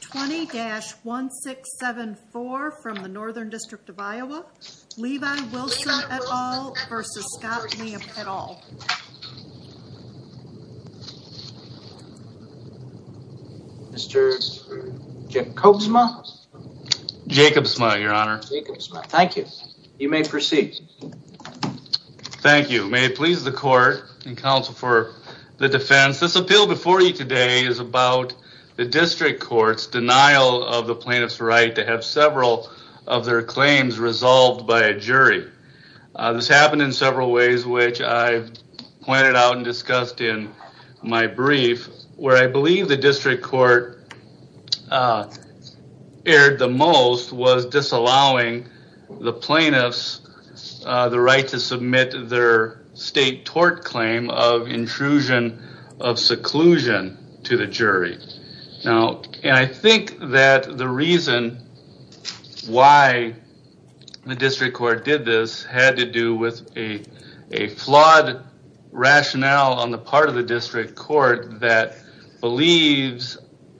20-1674 from the Northern District of Iowa, Levi Wilson et al versus Scott Lamp et al. Mr. Jacobsma. Jacobsma, your honor. Thank you. You may proceed. Thank you. May it please the court and counsel for the defense. This appeal before you today is about the district court's denial of the plaintiff's right to have several of their claims resolved by a jury. This happened in several ways which I pointed out and discussed in my brief. Where I believe the district court erred the most was disallowing the plaintiffs the right to submit their state tort claim of intrusion of seclusion to the jury. Now, and I think that the reason why the district court did this had to do with a flawed rationale on the part of the district court that believes,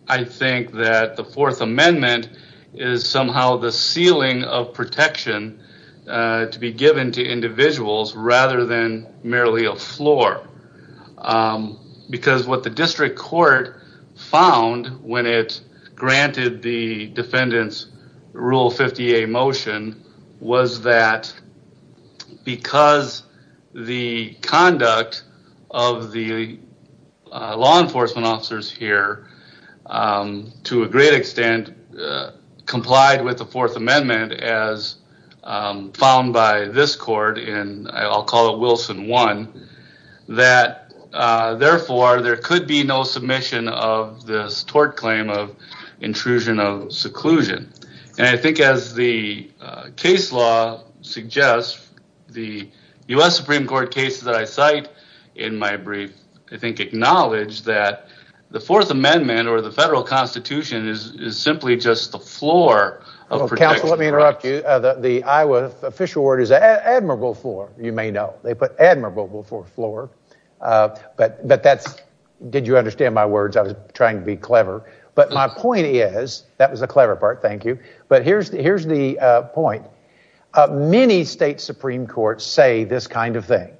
I think, that the fourth amendment is somehow the ceiling of protection to be given to individuals rather than merely a floor. Because what the district court found when it granted the defendants rule 50A motion was that because the conduct of the law enforcement officers here to a great extent complied with the fourth amendment as found by this court in, I'll call it Wilson 1, that therefore there could be no submission of this tort claim of intrusion of seclusion. And I think as the case law suggests the U.S. Supreme Court cases that I cite in my brief I think acknowledge that the fourth amendment or the federal constitution is simply just the floor of protection. Counsel, let me interrupt you. The Iowa official word is admirable floor, you may know. They put admirable fourth floor. But that's, did you understand my words? I was trying to be clever. But my point is, that was the clever part, thank you. But here's the point. Many state supreme courts say this kind of thing.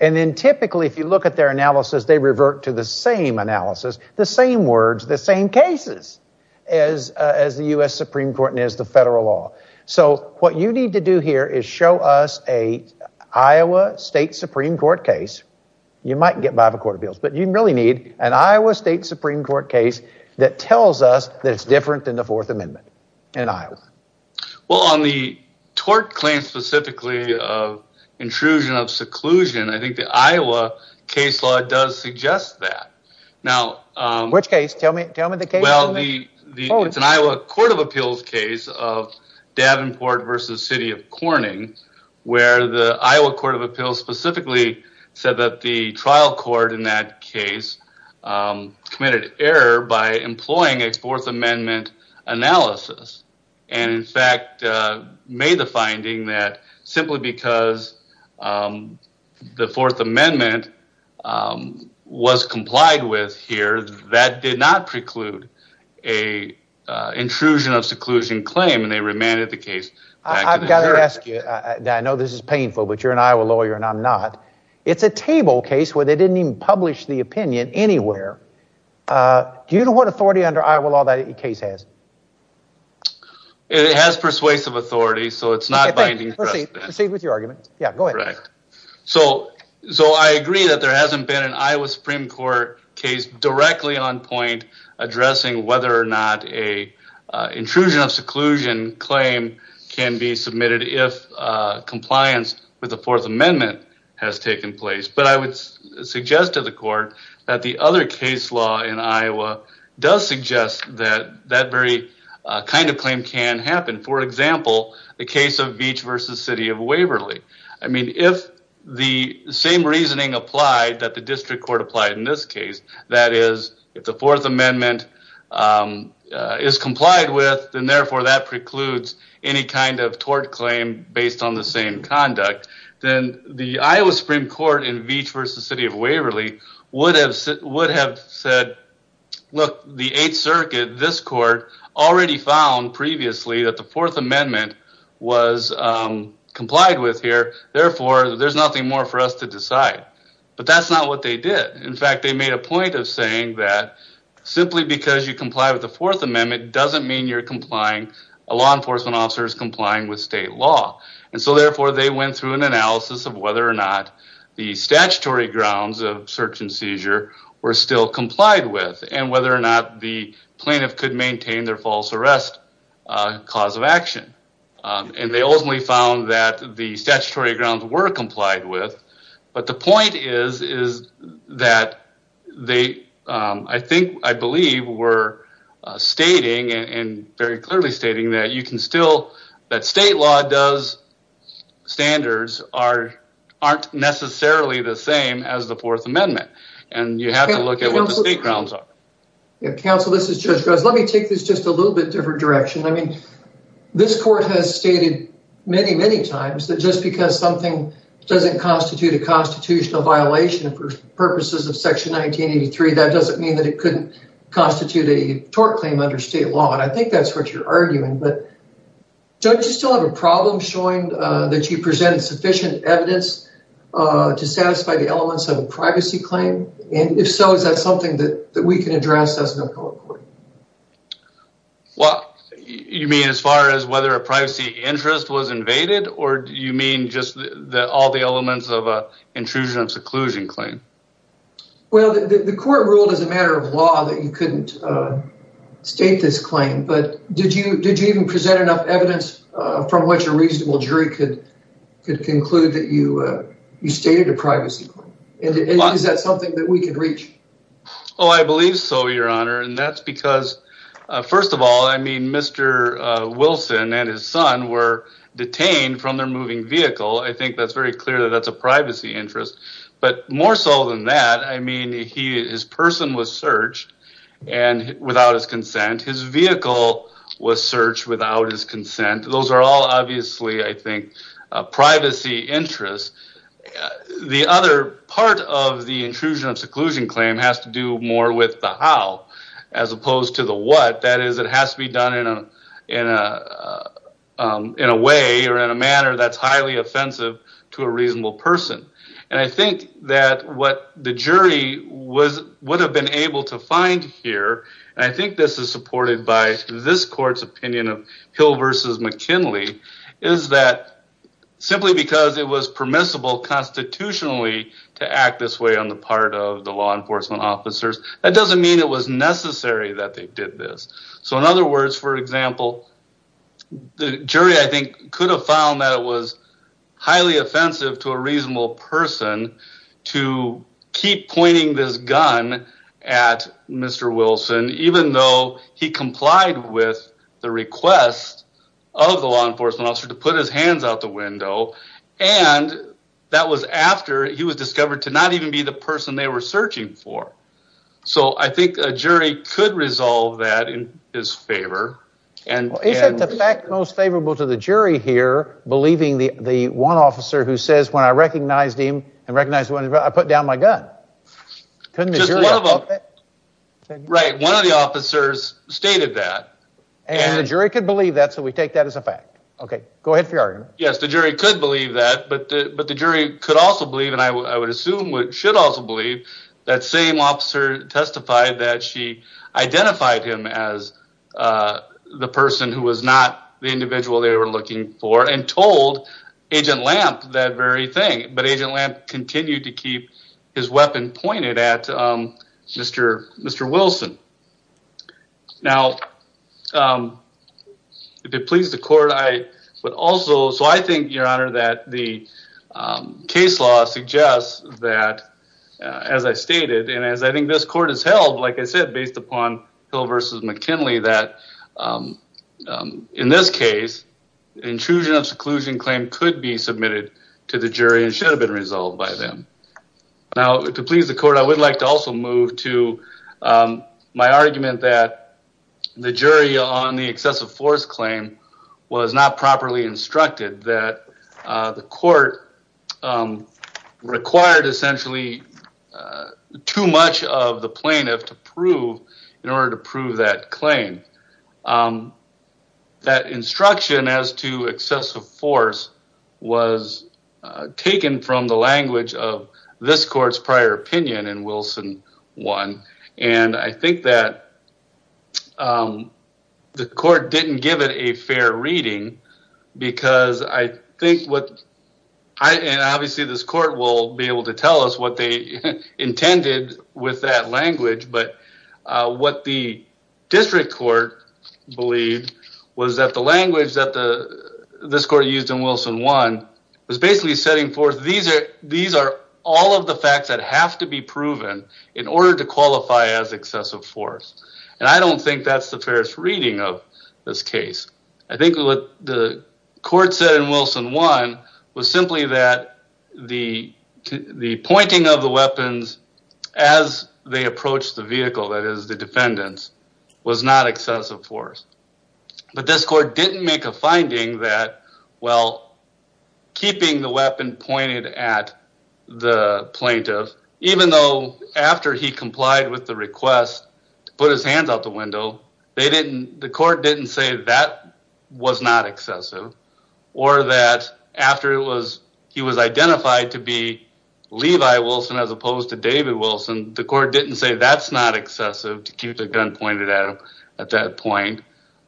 And then typically if you look at their analysis they revert to the same analysis, the same words, the same cases, as the U.S. Supreme Court and as the federal law. So what you need to do here is show us a Iowa state supreme court case, you might get five or quarter bills, but you really need an Iowa state supreme court case that tells us that it's different than the fourth amendment in Iowa. Well, on the tort claim specifically of seclusion, I think the Iowa case law does suggest that. Which case? Tell me the case. Well, it's an Iowa court of appeals case of Davenport v. City of Corning, where the Iowa court of appeals specifically said that the trial court in that case committed error by employing a finding that simply because the fourth amendment was complied with here, that did not preclude an intrusion of seclusion claim, and they remanded the case. I've got to ask you, I know this is painful, but you're an Iowa lawyer and I'm not, it's a table case where they didn't even publish the opinion anywhere. Do you know what authority under Iowa law that case has? It has persuasive authority, so it's not binding. Proceed with your argument. Yeah, go ahead. So I agree that there hasn't been an Iowa supreme court case directly on point addressing whether or not a intrusion of seclusion claim can be submitted if compliance with the fourth amendment has taken place. But I would suggest to the court that the other case law in Iowa does suggest that that very kind of the case of Veatch v. City of Waverly. I mean, if the same reasoning applied that the district court applied in this case, that is, if the fourth amendment is complied with, then therefore that precludes any kind of tort claim based on the same conduct, then the Iowa supreme court in Veatch v. City of Waverly would have said, look, the 8th circuit, this court, already found previously that the fourth amendment was complied with here, therefore there's nothing more for us to decide. But that's not what they did. In fact, they made a point of saying that simply because you comply with the fourth amendment doesn't mean you're complying, a law enforcement officer is complying with state law. And so therefore they went through an analysis of whether or not the statutory grounds of search and seizure were still complied with and whether or not the plaintiff could maintain their false arrest cause of action. And they ultimately found that the statutory grounds were complied with, but the point is that they, I think, I believe, were stating and very clearly stating that you can still, that state law does, standards aren't necessarily the same as the fourth amendment. And you have to look at what the state grounds are. Counsel, this is Judge Rose. Let me take this just a little bit different direction. I mean, this court has stated many, many times that just because something doesn't constitute a constitutional violation for purposes of section 1983, that doesn't mean that it couldn't constitute a tort claim under state law. And I think that's what you're arguing, but don't you still have a problem showing that you presented sufficient evidence to satisfy the elements of a privacy claim? And if so, is that something that we can address as an appellate court? Well, you mean as far as whether a privacy interest was invaded, or do you mean just all the elements of an intrusion and seclusion claim? Well, the court ruled as a matter of law that you couldn't state this claim, but did you even present enough evidence from which a reasonable and is that something that we could reach? Oh, I believe so, your honor. And that's because, first of all, I mean, Mr. Wilson and his son were detained from their moving vehicle. I think that's very clear that that's a privacy interest, but more so than that, I mean, he, his person was searched and without his consent, his vehicle was searched without his consent. Those are all I think privacy interests. The other part of the intrusion of seclusion claim has to do more with the how, as opposed to the what. That is, it has to be done in a way or in a manner that's highly offensive to a reasonable person. And I think that what the jury would have been able to find here, and I think this is supported by this court's opinion of Hill versus McKinley, is that simply because it was permissible constitutionally to act this way on the part of the law enforcement officers, that doesn't mean it was necessary that they did this. So in other words, for example, the jury, I think could have found that it was highly offensive to a reasonable person to keep pointing this gun at Mr. Wilson, even though he complied with the request of the law enforcement officer to put his hands out the window. And that was after he was discovered to not even be the person they were searching for. So I think a jury could resolve that in his favor. Is that the fact most favorable to the jury here, believing the one officer who when I recognized him, I put down my gun? One of the officers stated that. And the jury could believe that, so we take that as a fact. Okay, go ahead for your argument. Yes, the jury could believe that, but the jury could also believe, and I would assume should also believe, that same officer testified that she identified him as the person who was not the individual they were searching for. But Agent Lamp continued to keep his weapon pointed at Mr. Wilson. Now, if it pleases the court, I would also, so I think, your honor, that the case law suggests that, as I stated, and as I think this court has held, like I said, based upon Hill versus McKinley, that in this case, intrusion of seclusion claim could be submitted to the jury and should have been resolved by them. Now, to please the court, I would like to also move to my argument that the jury on the excessive force claim was not properly instructed, that the court required essentially too much of the plaintiff to prove in order to prove that claim. That instruction as to excessive force was taken from the language of this court's prior opinion in Wilson 1, and I think that the court didn't give it a fair reading because I think what, and obviously this court will be able to tell us what they intended with that language, but what the district court believed was that the language that this court used in Wilson 1 was basically setting forth these are all of the facts that have to be proven in order to qualify as excessive force. And I don't think that's the fairest reading of this case. I think what the court said in Wilson 1 was simply that the pointing of the weapons as they approached the vehicle, that is the defendants, was not excessive force. But this court didn't make a finding that, well, keeping the weapon pointed at the plaintiff, even though after he complied with the request to put his hands out the window, they didn't, the court didn't say that was not excessive or that after it was, he was identified to be Levi Wilson as opposed to David Wilson, the court didn't say that's not excessive to keep the gun pointed at him at that point.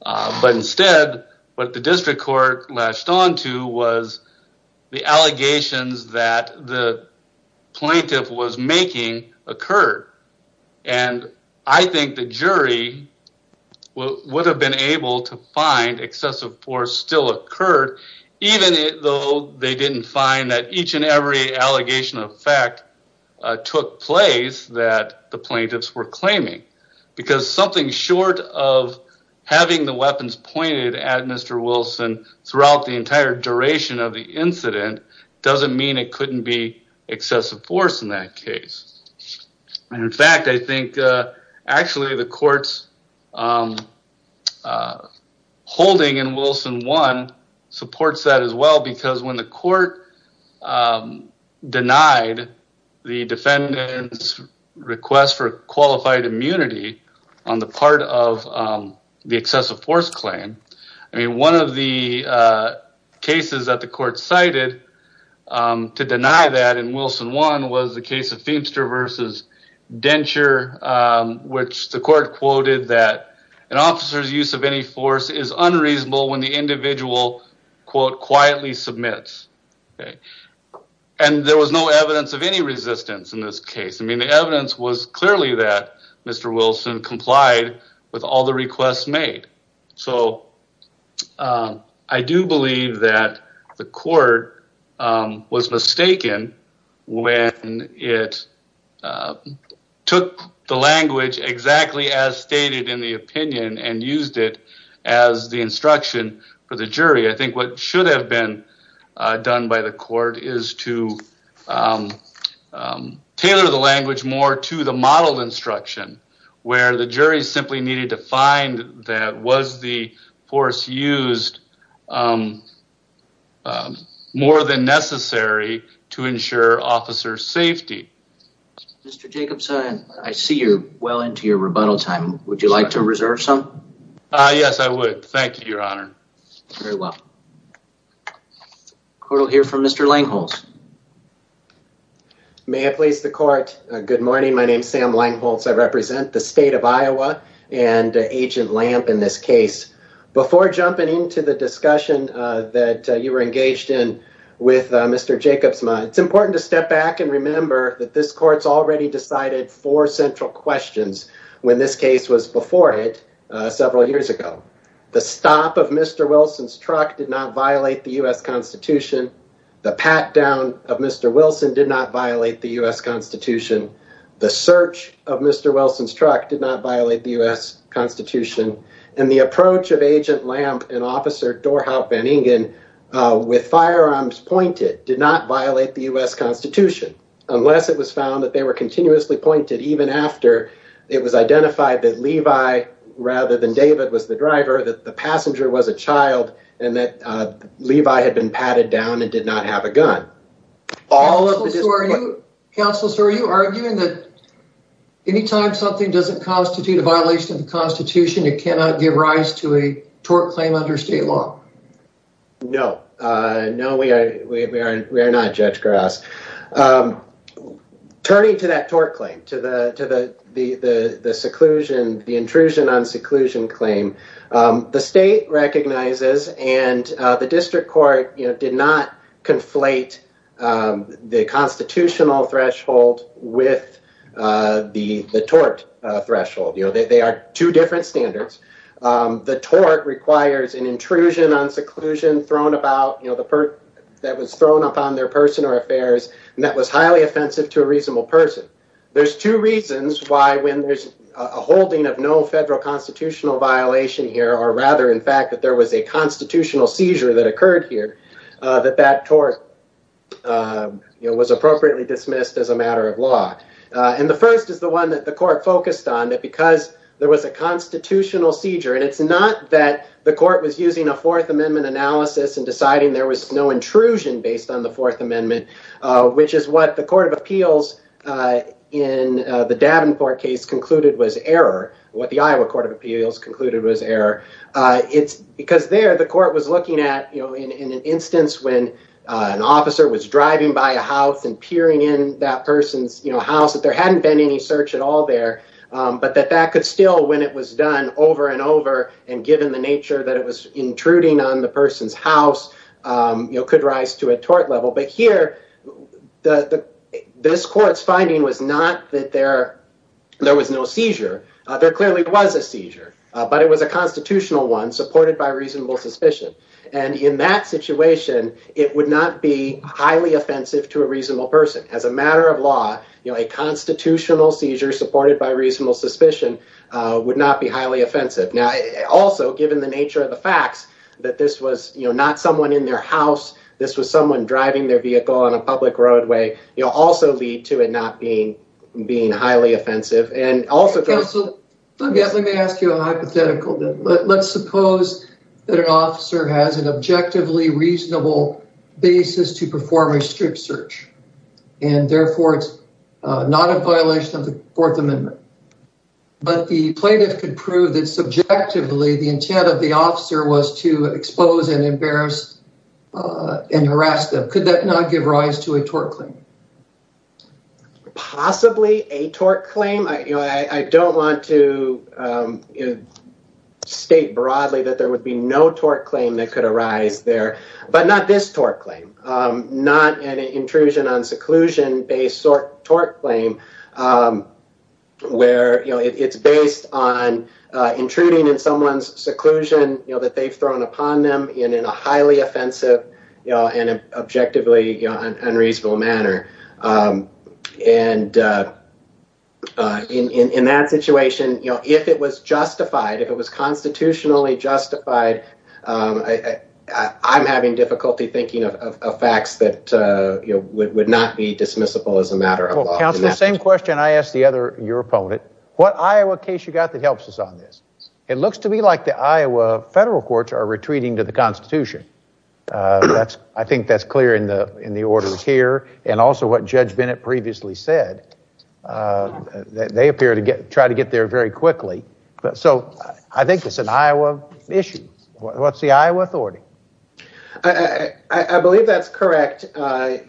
But instead, what the district court latched onto was the allegations that the plaintiff was making occurred. And I think the jury would have been able to find still occurred, even though they didn't find that each and every allegation of fact took place that the plaintiffs were claiming. Because something short of having the weapons pointed at Mr. Wilson throughout the entire duration of the incident doesn't mean it couldn't be excessive force in that case. And in fact, I think actually the court's holding in Wilson 1 supports that as well, because when the court denied the defendant's request for qualified immunity on the part of the excessive force claim, I mean, one of the cases that the court cited to deny that in Wilson 1 was the case of Feimster versus Denture, which the court quoted that an officer's use of any force is unreasonable when the individual quietly submits. And there was no evidence of any resistance in this case. I mean, the evidence was clearly that Mr. Wilson complied with all the requests made. So I do believe that the court was mistaken when it took the language exactly as stated in the opinion and used it as the instruction for the jury. I think what should have been done by the court is to tailor the language more to the model instruction, where the jury simply needed to find that was the force used more than necessary to ensure officer safety. Mr. Jacobson, I see you're well into your rebuttal time. Would you like to reserve some? Yes, I would. Thank you, Your Honor. Very well. Court will hear from Mr. Langholz. May I please the court? Good morning. My name is Sam Langholz. I represent the state of Iowa and Agent Lamp in this case. Before jumping into the discussion that you were engaged in with Mr. Jacobson, it's important to step back and remember that this court's already decided four central questions when this case was before it several years ago. The stop of Mr. Wilson's truck did not violate the U.S. Constitution. The pat down of Mr. Wilson did not violate the U.S. Constitution. And the approach of Agent Lamp and Officer Dorhout Van Ingen with firearms pointed did not violate the U.S. Constitution, unless it was found that they were continuously pointed, even after it was identified that Levi rather than David was the driver, that the passenger was a child, and that Levi had been patted down and did not have a gun. All of this... Counselor, are you arguing that any time something doesn't constitute a violation of the Constitution, it cannot give rise to a tort claim under state law? No. No, we are not, Judge Grouse. Turning to that tort claim, to the seclusion, the intrusion on seclusion claim, the state recognizes and the district court did not conflate the constitutional threshold with the tort threshold. They are two different standards. The tort requires an intrusion on seclusion thrown about that was thrown upon their personal affairs and that was highly offensive to a reasonable person. There's two reasons why when there's a holding of no federal constitutional violation here, or rather, in fact, that there was a constitutional seizure that occurred here, that that tort was appropriately dismissed as a matter of law. The first is the one that the court focused on, that because there was a constitutional seizure, and it's not that the court was using a Fourth Amendment analysis and deciding there was no intrusion based on the Fourth Amendment, which is what the Court of Appeals in the Davenport case concluded was error, what the Iowa Court of Appeals concluded was error, it's because there the court was looking at, you know, in an instance when an officer was driving by a house and peering in that person's, you know, house, that there hadn't been any search at all there, but that that could still, when it was done over and over and given the nature that it was intruding on the person's house, you know, could rise to a tort level. But here, this court's finding was not that there was no seizure. There clearly was a seizure, but it was a constitutional one supported by reasonable suspicion, and in that situation, it would not be highly offensive to a reasonable person. As a matter of law, you know, a constitutional seizure supported by reasonable suspicion would not be highly offensive. Now, also, given the nature of the facts that this was, you know, not someone in their house, this was someone driving their vehicle on a public roadway, you know, also lead to it not being highly offensive. Let me ask you a hypothetical. Let's suppose that an officer has an objectively reasonable basis to perform a strip search, and therefore it's not a violation of the Fourth Amendment, but the plaintiff could prove that subjectively the intent of the officer was to expose and embarrass and harass them. Could that not give rise to a tort claim? Possibly a tort claim. You know, I don't want to state broadly that there would be no tort claim that could arise there, but not this tort claim, not an intrusion on seclusion-based tort claim where, you know, it's based on intruding in someone's seclusion, you know, that they've upon them in a highly offensive and objectively unreasonable manner. And in that situation, you know, if it was justified, if it was constitutionally justified, I'm having difficulty thinking of facts that, you know, would not be dismissible as a matter of law. Well, counsel, the same question I asked the other—your opponent. What Iowa case you got that helps us on this? It looks to me like the Iowa federal courts are retreating to the Constitution. I think that's clear in the orders here, and also what Judge Bennett previously said. They appear to try to get there very quickly. So I think it's an Iowa issue. What's the Iowa authority? I believe that's correct,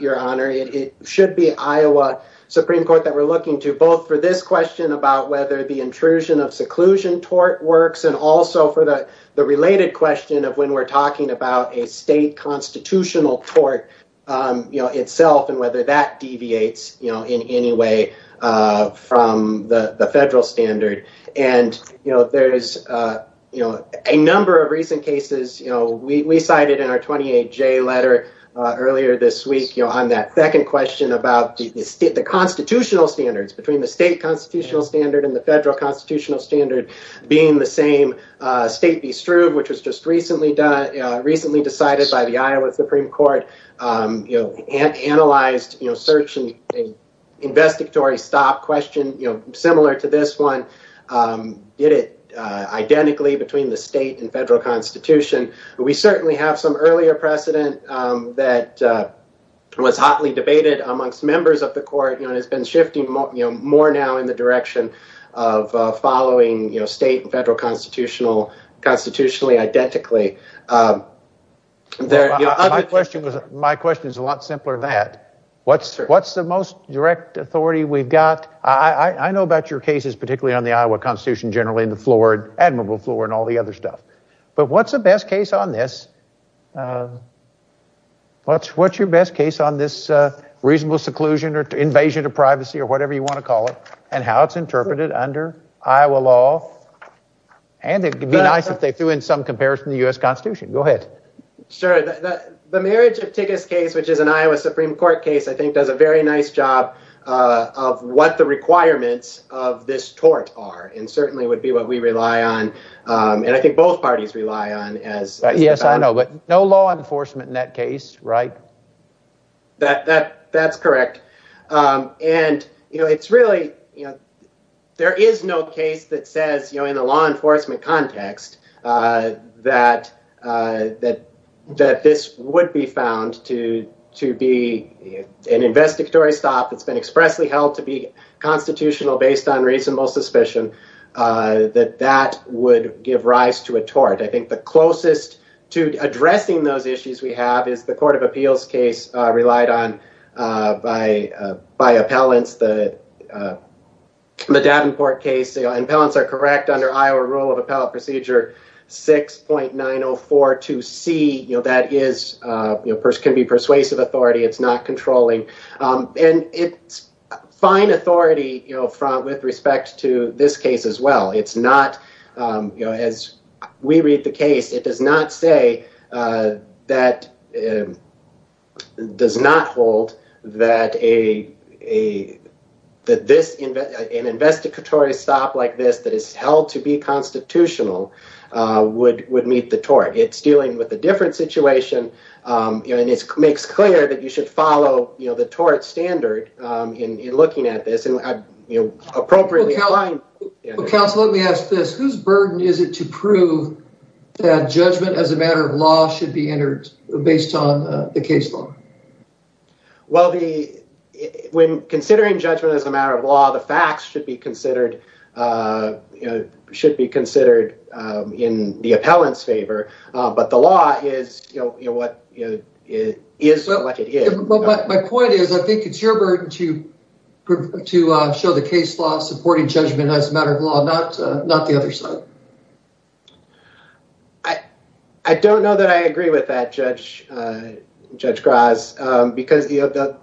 Your Honor. It should be Iowa Supreme Court that we're looking to both for this question about whether the intrusion of seclusion tort works and also for the related question of when we're talking about a state constitutional tort, you know, itself and whether that deviates, you know, in any way from the federal standard. And, you know, there's, you know, a number of recent cases, you know, we cited in our 28J letter earlier this week, on that second question about the constitutional standards between the state constitutional standard and the federal constitutional standard being the same. State v. Struve, which was just recently decided by the Iowa Supreme Court, you know, analyzed, you know, searching an investigatory stop question, you know, similar to this one, did it identically between the state and federal constitution. We certainly have some earlier precedent that was hotly debated amongst members of the court, you know, and has been shifting, you know, more now in the direction of following, you know, state and federal constitutionally identically. My question is a lot simpler than that. What's the most direct authority we've got? I know about your cases, particularly on the Iowa Constitution, generally in the floor, admirable floor and all the other stuff. But what's the best case on this? What's your best case on this reasonable seclusion or invasion of privacy or whatever you want to call it and how it's interpreted under Iowa law? And it would be nice if they threw in some comparison to the U.S. Constitution. Go ahead. Sure. The marriage of tickets case, which is an Iowa Supreme Court case, I think does a very nice job of what the requirements of this tort are and certainly would be what we rely on. And I think both parties rely on as. Yes, I know. But no law enforcement in that case. Right. That that that's correct. And, you know, it's really, you know, there is no case that says, you know, in the law enforcement context that that that this would be found to to be an investigatory stop. It's been expressly held to be constitutional based on reasonable suspicion that that would give rise to a tort. I think the closest to addressing those issues we have is the Court of Appeals case relied on by by appellants that the Davenport case and balance are correct under Iowa rule of appellate procedure six point nine oh four to see that is can be persuasive authority. It's not controlling and it's fine authority, you know, front with respect to this case as well. It's not as we read the case. It does not say that does not hold that a that this an investigatory stop like this that is held to be constitutional would would meet the tort. It's dealing with a different situation. And it makes clear that you should follow the tort standard in looking at this and appropriately. Council, let me ask this. Whose burden is it to prove that judgment as a matter of law should be entered based on the case law? Well, the when considering judgment as a matter of law, the facts should be considered a should be considered in the appellant's favor. But the law is what it is. But my point is, I think it's your burden to prove to show the case law supporting judgment as a matter of law, not not the other side. I, I don't know that I agree with that, Judge, Judge Krause, because the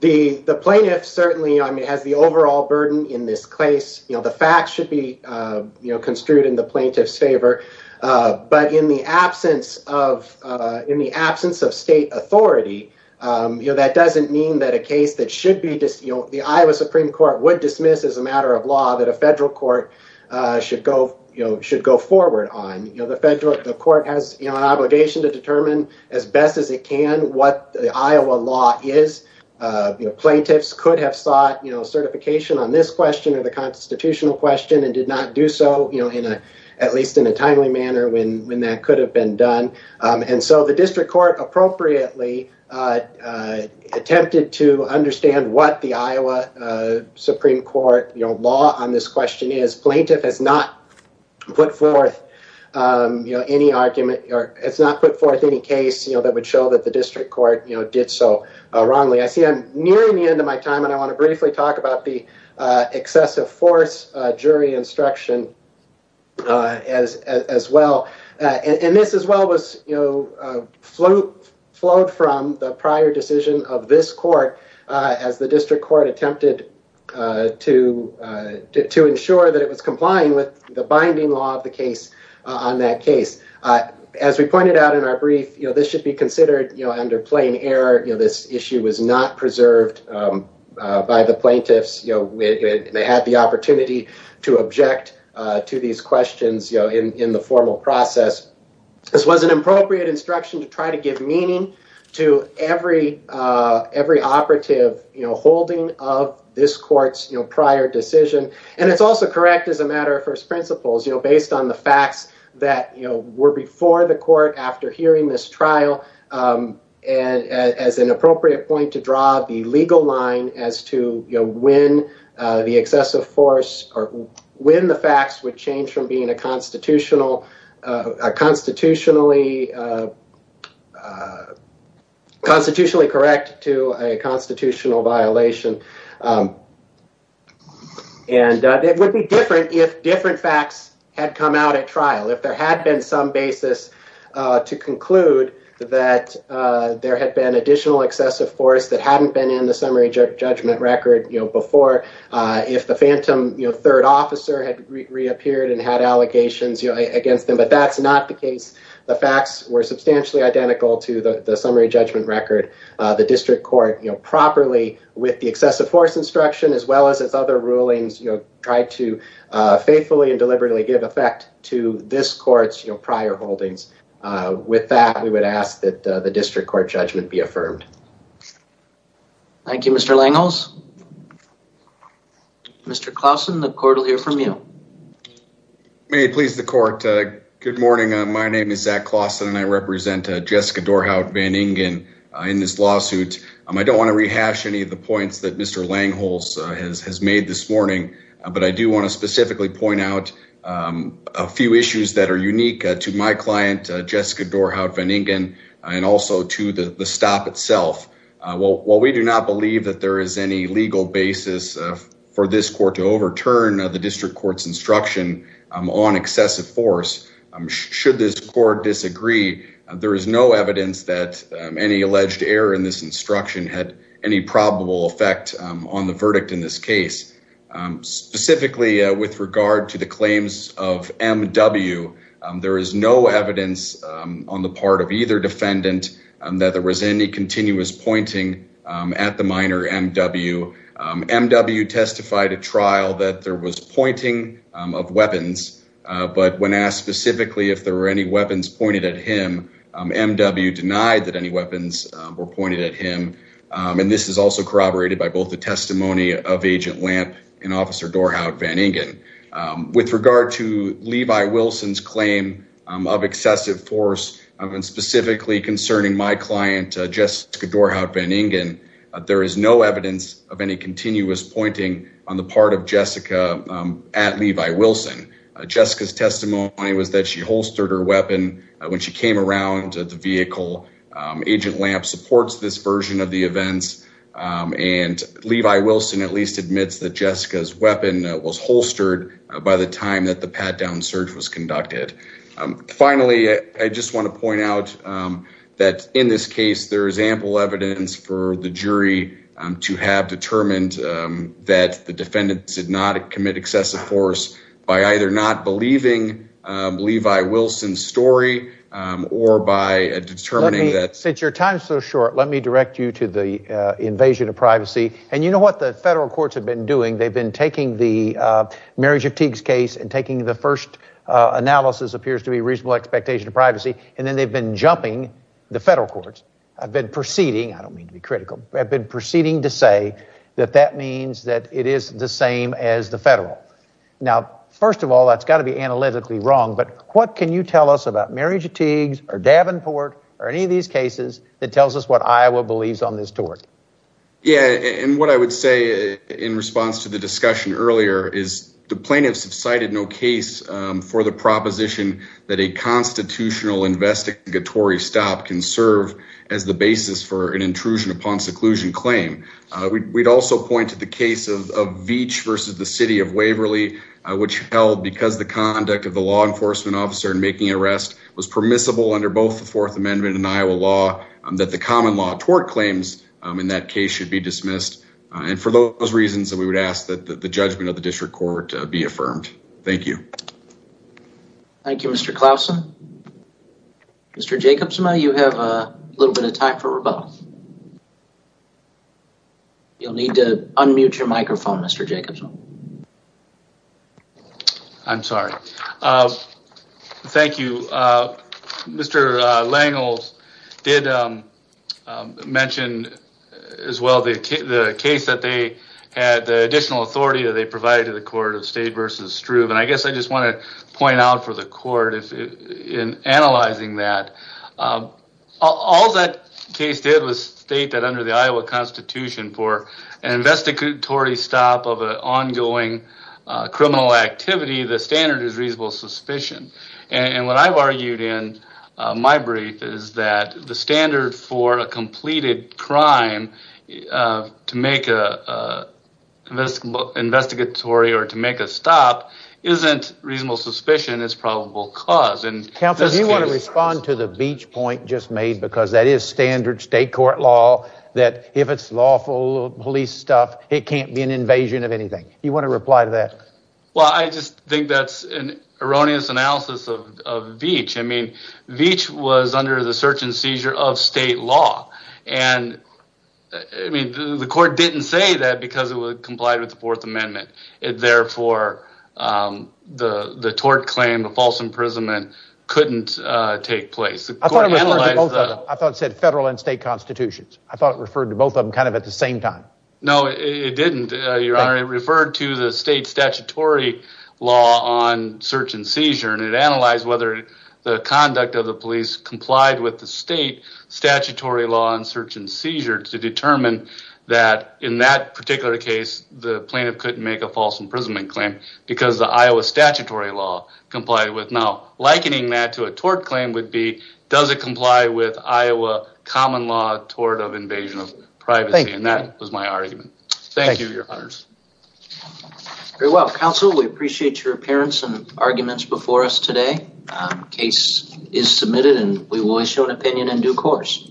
the the plaintiff certainly has the overall burden in this case. The facts should be construed in the plaintiff's favor. But in the absence of in the absence of state authority, that doesn't mean that a case that should be the Iowa Supreme Court would dismiss as a matter of law that a federal court should go should go forward on the federal court has an obligation to determine as best as it can what the Iowa law is. Plaintiffs could have sought certification on this question or the constitutional question and did not do so in a at least in a timely manner when when that could have been done. And so the district court appropriately attempted to understand what the Iowa Supreme Court law on this question is. Plaintiff has not put forth you know, any argument or it's not put forth any case, you know, that would show that the district court, you know, did so wrongly. I see I'm nearing the end of my time and I want to briefly talk about the excessive force jury instruction as as well. And this as well was, you know, flowed from the prior decision of this court as the district court attempted to to ensure that it was complying with the binding law of the case on that case. As we pointed out in our brief, you know, this should be considered, you know, under plain error. You know, this issue was not preserved by the plaintiffs. You know, they had the opportunity to object to these questions, you know, in the formal process. This was an appropriate instruction to try to give meaning to every operative, you know, holding of this court's prior decision. And it's also correct as a matter of first principles, you know, based on the facts that, you know, were before the court after hearing this trial and as an appropriate point to draw the legal line as to, you know, when the excessive force or when the facts would change from being a constitutional constitutionally constitutionally correct to a constitutional violation. And it would be different if different facts had come out at trial. If there had been some basis to conclude that there had been additional excessive force that hadn't been in the summary judgment record, you know, before, if the phantom, you know, third officer had reappeared and had allegations, you know, against them. But that's not the case. The facts were substantially identical to the summary judgment record. The district court, you know, properly with the excessive force instruction as well as its other rulings, you know, tried to faithfully and deliberately give effect to this court's, you know, prior holdings. With that, we would ask that the district court judgment be affirmed. Thank you, Mr. Langholz. Mr. Clausen, the court will hear from you. May it please the court. Good morning. My name is Zach Clausen and I represent Jessica Dorhout-Van Ingen in this lawsuit. I don't want to rehash any of the points that Mr. Langholz has made this morning, but I do want to specifically point out a few issues that are unique to my client, Jessica Dorhout-Van Ingen, and also to the stop itself. While we do not believe that there is any legal basis for this court to overturn the district court's instruction on excessive force, should this court disagree, there is no evidence that any alleged error in this instruction had any probable effect on the verdict in this case. Specifically with regard to the claims of M.W., there is no evidence on the part of either defendant that there was any but when asked specifically if there were any weapons pointed at him, M.W. denied that any weapons were pointed at him, and this is also corroborated by both the testimony of Agent Lamp and Officer Dorhout-Van Ingen. With regard to Levi Wilson's claim of excessive force and specifically concerning my client, Jessica Dorhout-Van Ingen, there is no evidence of continuous pointing on the part of Jessica at Levi Wilson. Jessica's testimony was that she holstered her weapon when she came around the vehicle. Agent Lamp supports this version of the events, and Levi Wilson at least admits that Jessica's weapon was holstered by the time that the pat-down search was conducted. Finally, I just want to point out that in this case, there is ample evidence for the jury to have determined that the defendant did not commit excessive force by either not believing Levi Wilson's story or by determining that... Since your time is so short, let me direct you to the invasion of privacy, and you know what the federal courts have been doing? They've been taking the marriage of Teague's case and taking the first analysis appears to be reasonable expectation of privacy, and then they've been jumping the federal courts. I've been proceeding... I don't mean to be critical... I've been proceeding to say that that means that it is the same as the federal. Now, first of all, that's got to be analytically wrong, but what can you tell us about marriage of Teague's or Davenport or any of these cases that tells us what Iowa believes on this tort? Yeah, and what I would say in response to the discussion earlier is the plaintiffs have cited no case for the proposition that a constitutional investigatory stop can serve as the basis for an intrusion upon seclusion claim. We'd also point to the case of Veatch versus the City of Waverly, which held because the conduct of the law enforcement officer in making an arrest was permissible under both the Fourth Amendment and Iowa law, that the common law tort claims in that case should be dismissed. And for those reasons, we would ask that the judgment of the district court be affirmed. Thank you. Thank you, Mr. Klausen. Mr. Jacobson, you have a little bit of time for rebuttal. You'll need to unmute your microphone, Mr. Jacobson. I'm sorry. Thank you. Mr. Langels did mention as well the case that they had the additional authority that they provided to the court of Stade versus Struve, and I guess I just want to point out for the court in analyzing that, all that case did was state that under the Iowa Constitution for an investigatory stop of an ongoing criminal activity, the standard is reasonable suspicion. And what I've argued in my brief is that the standard for a completed crime to make an investigatory or to make a stop isn't reasonable suspicion, it's probable cause. Counsel, do you want to respond to the Veatch point just made, because that is standard state court law, that if it's lawful police stuff, it can't be an invasion of anything. You want to reply to that? Well, I just think that's an erroneous analysis of Veatch. I mean, Veatch was under the search and seizure of state law, and I mean, the court didn't say that because it would comply with the Fourth Amendment. Therefore, the tort claim, the false imprisonment couldn't take place. I thought it said federal and state constitutions. I thought it referred to both of them kind of at the same time. No, it didn't, Your Honor. It referred to the state complied with the state statutory law on search and seizure to determine that in that particular case, the plaintiff couldn't make a false imprisonment claim because the Iowa statutory law complied with. Now, likening that to a tort claim would be, does it comply with Iowa common law tort of invasion of privacy? And that was my argument. Thank you, Your Honors. Very well, Counsel, we appreciate your appearance and arguments before us today. Case is submitted, and we will issue an opinion in due course.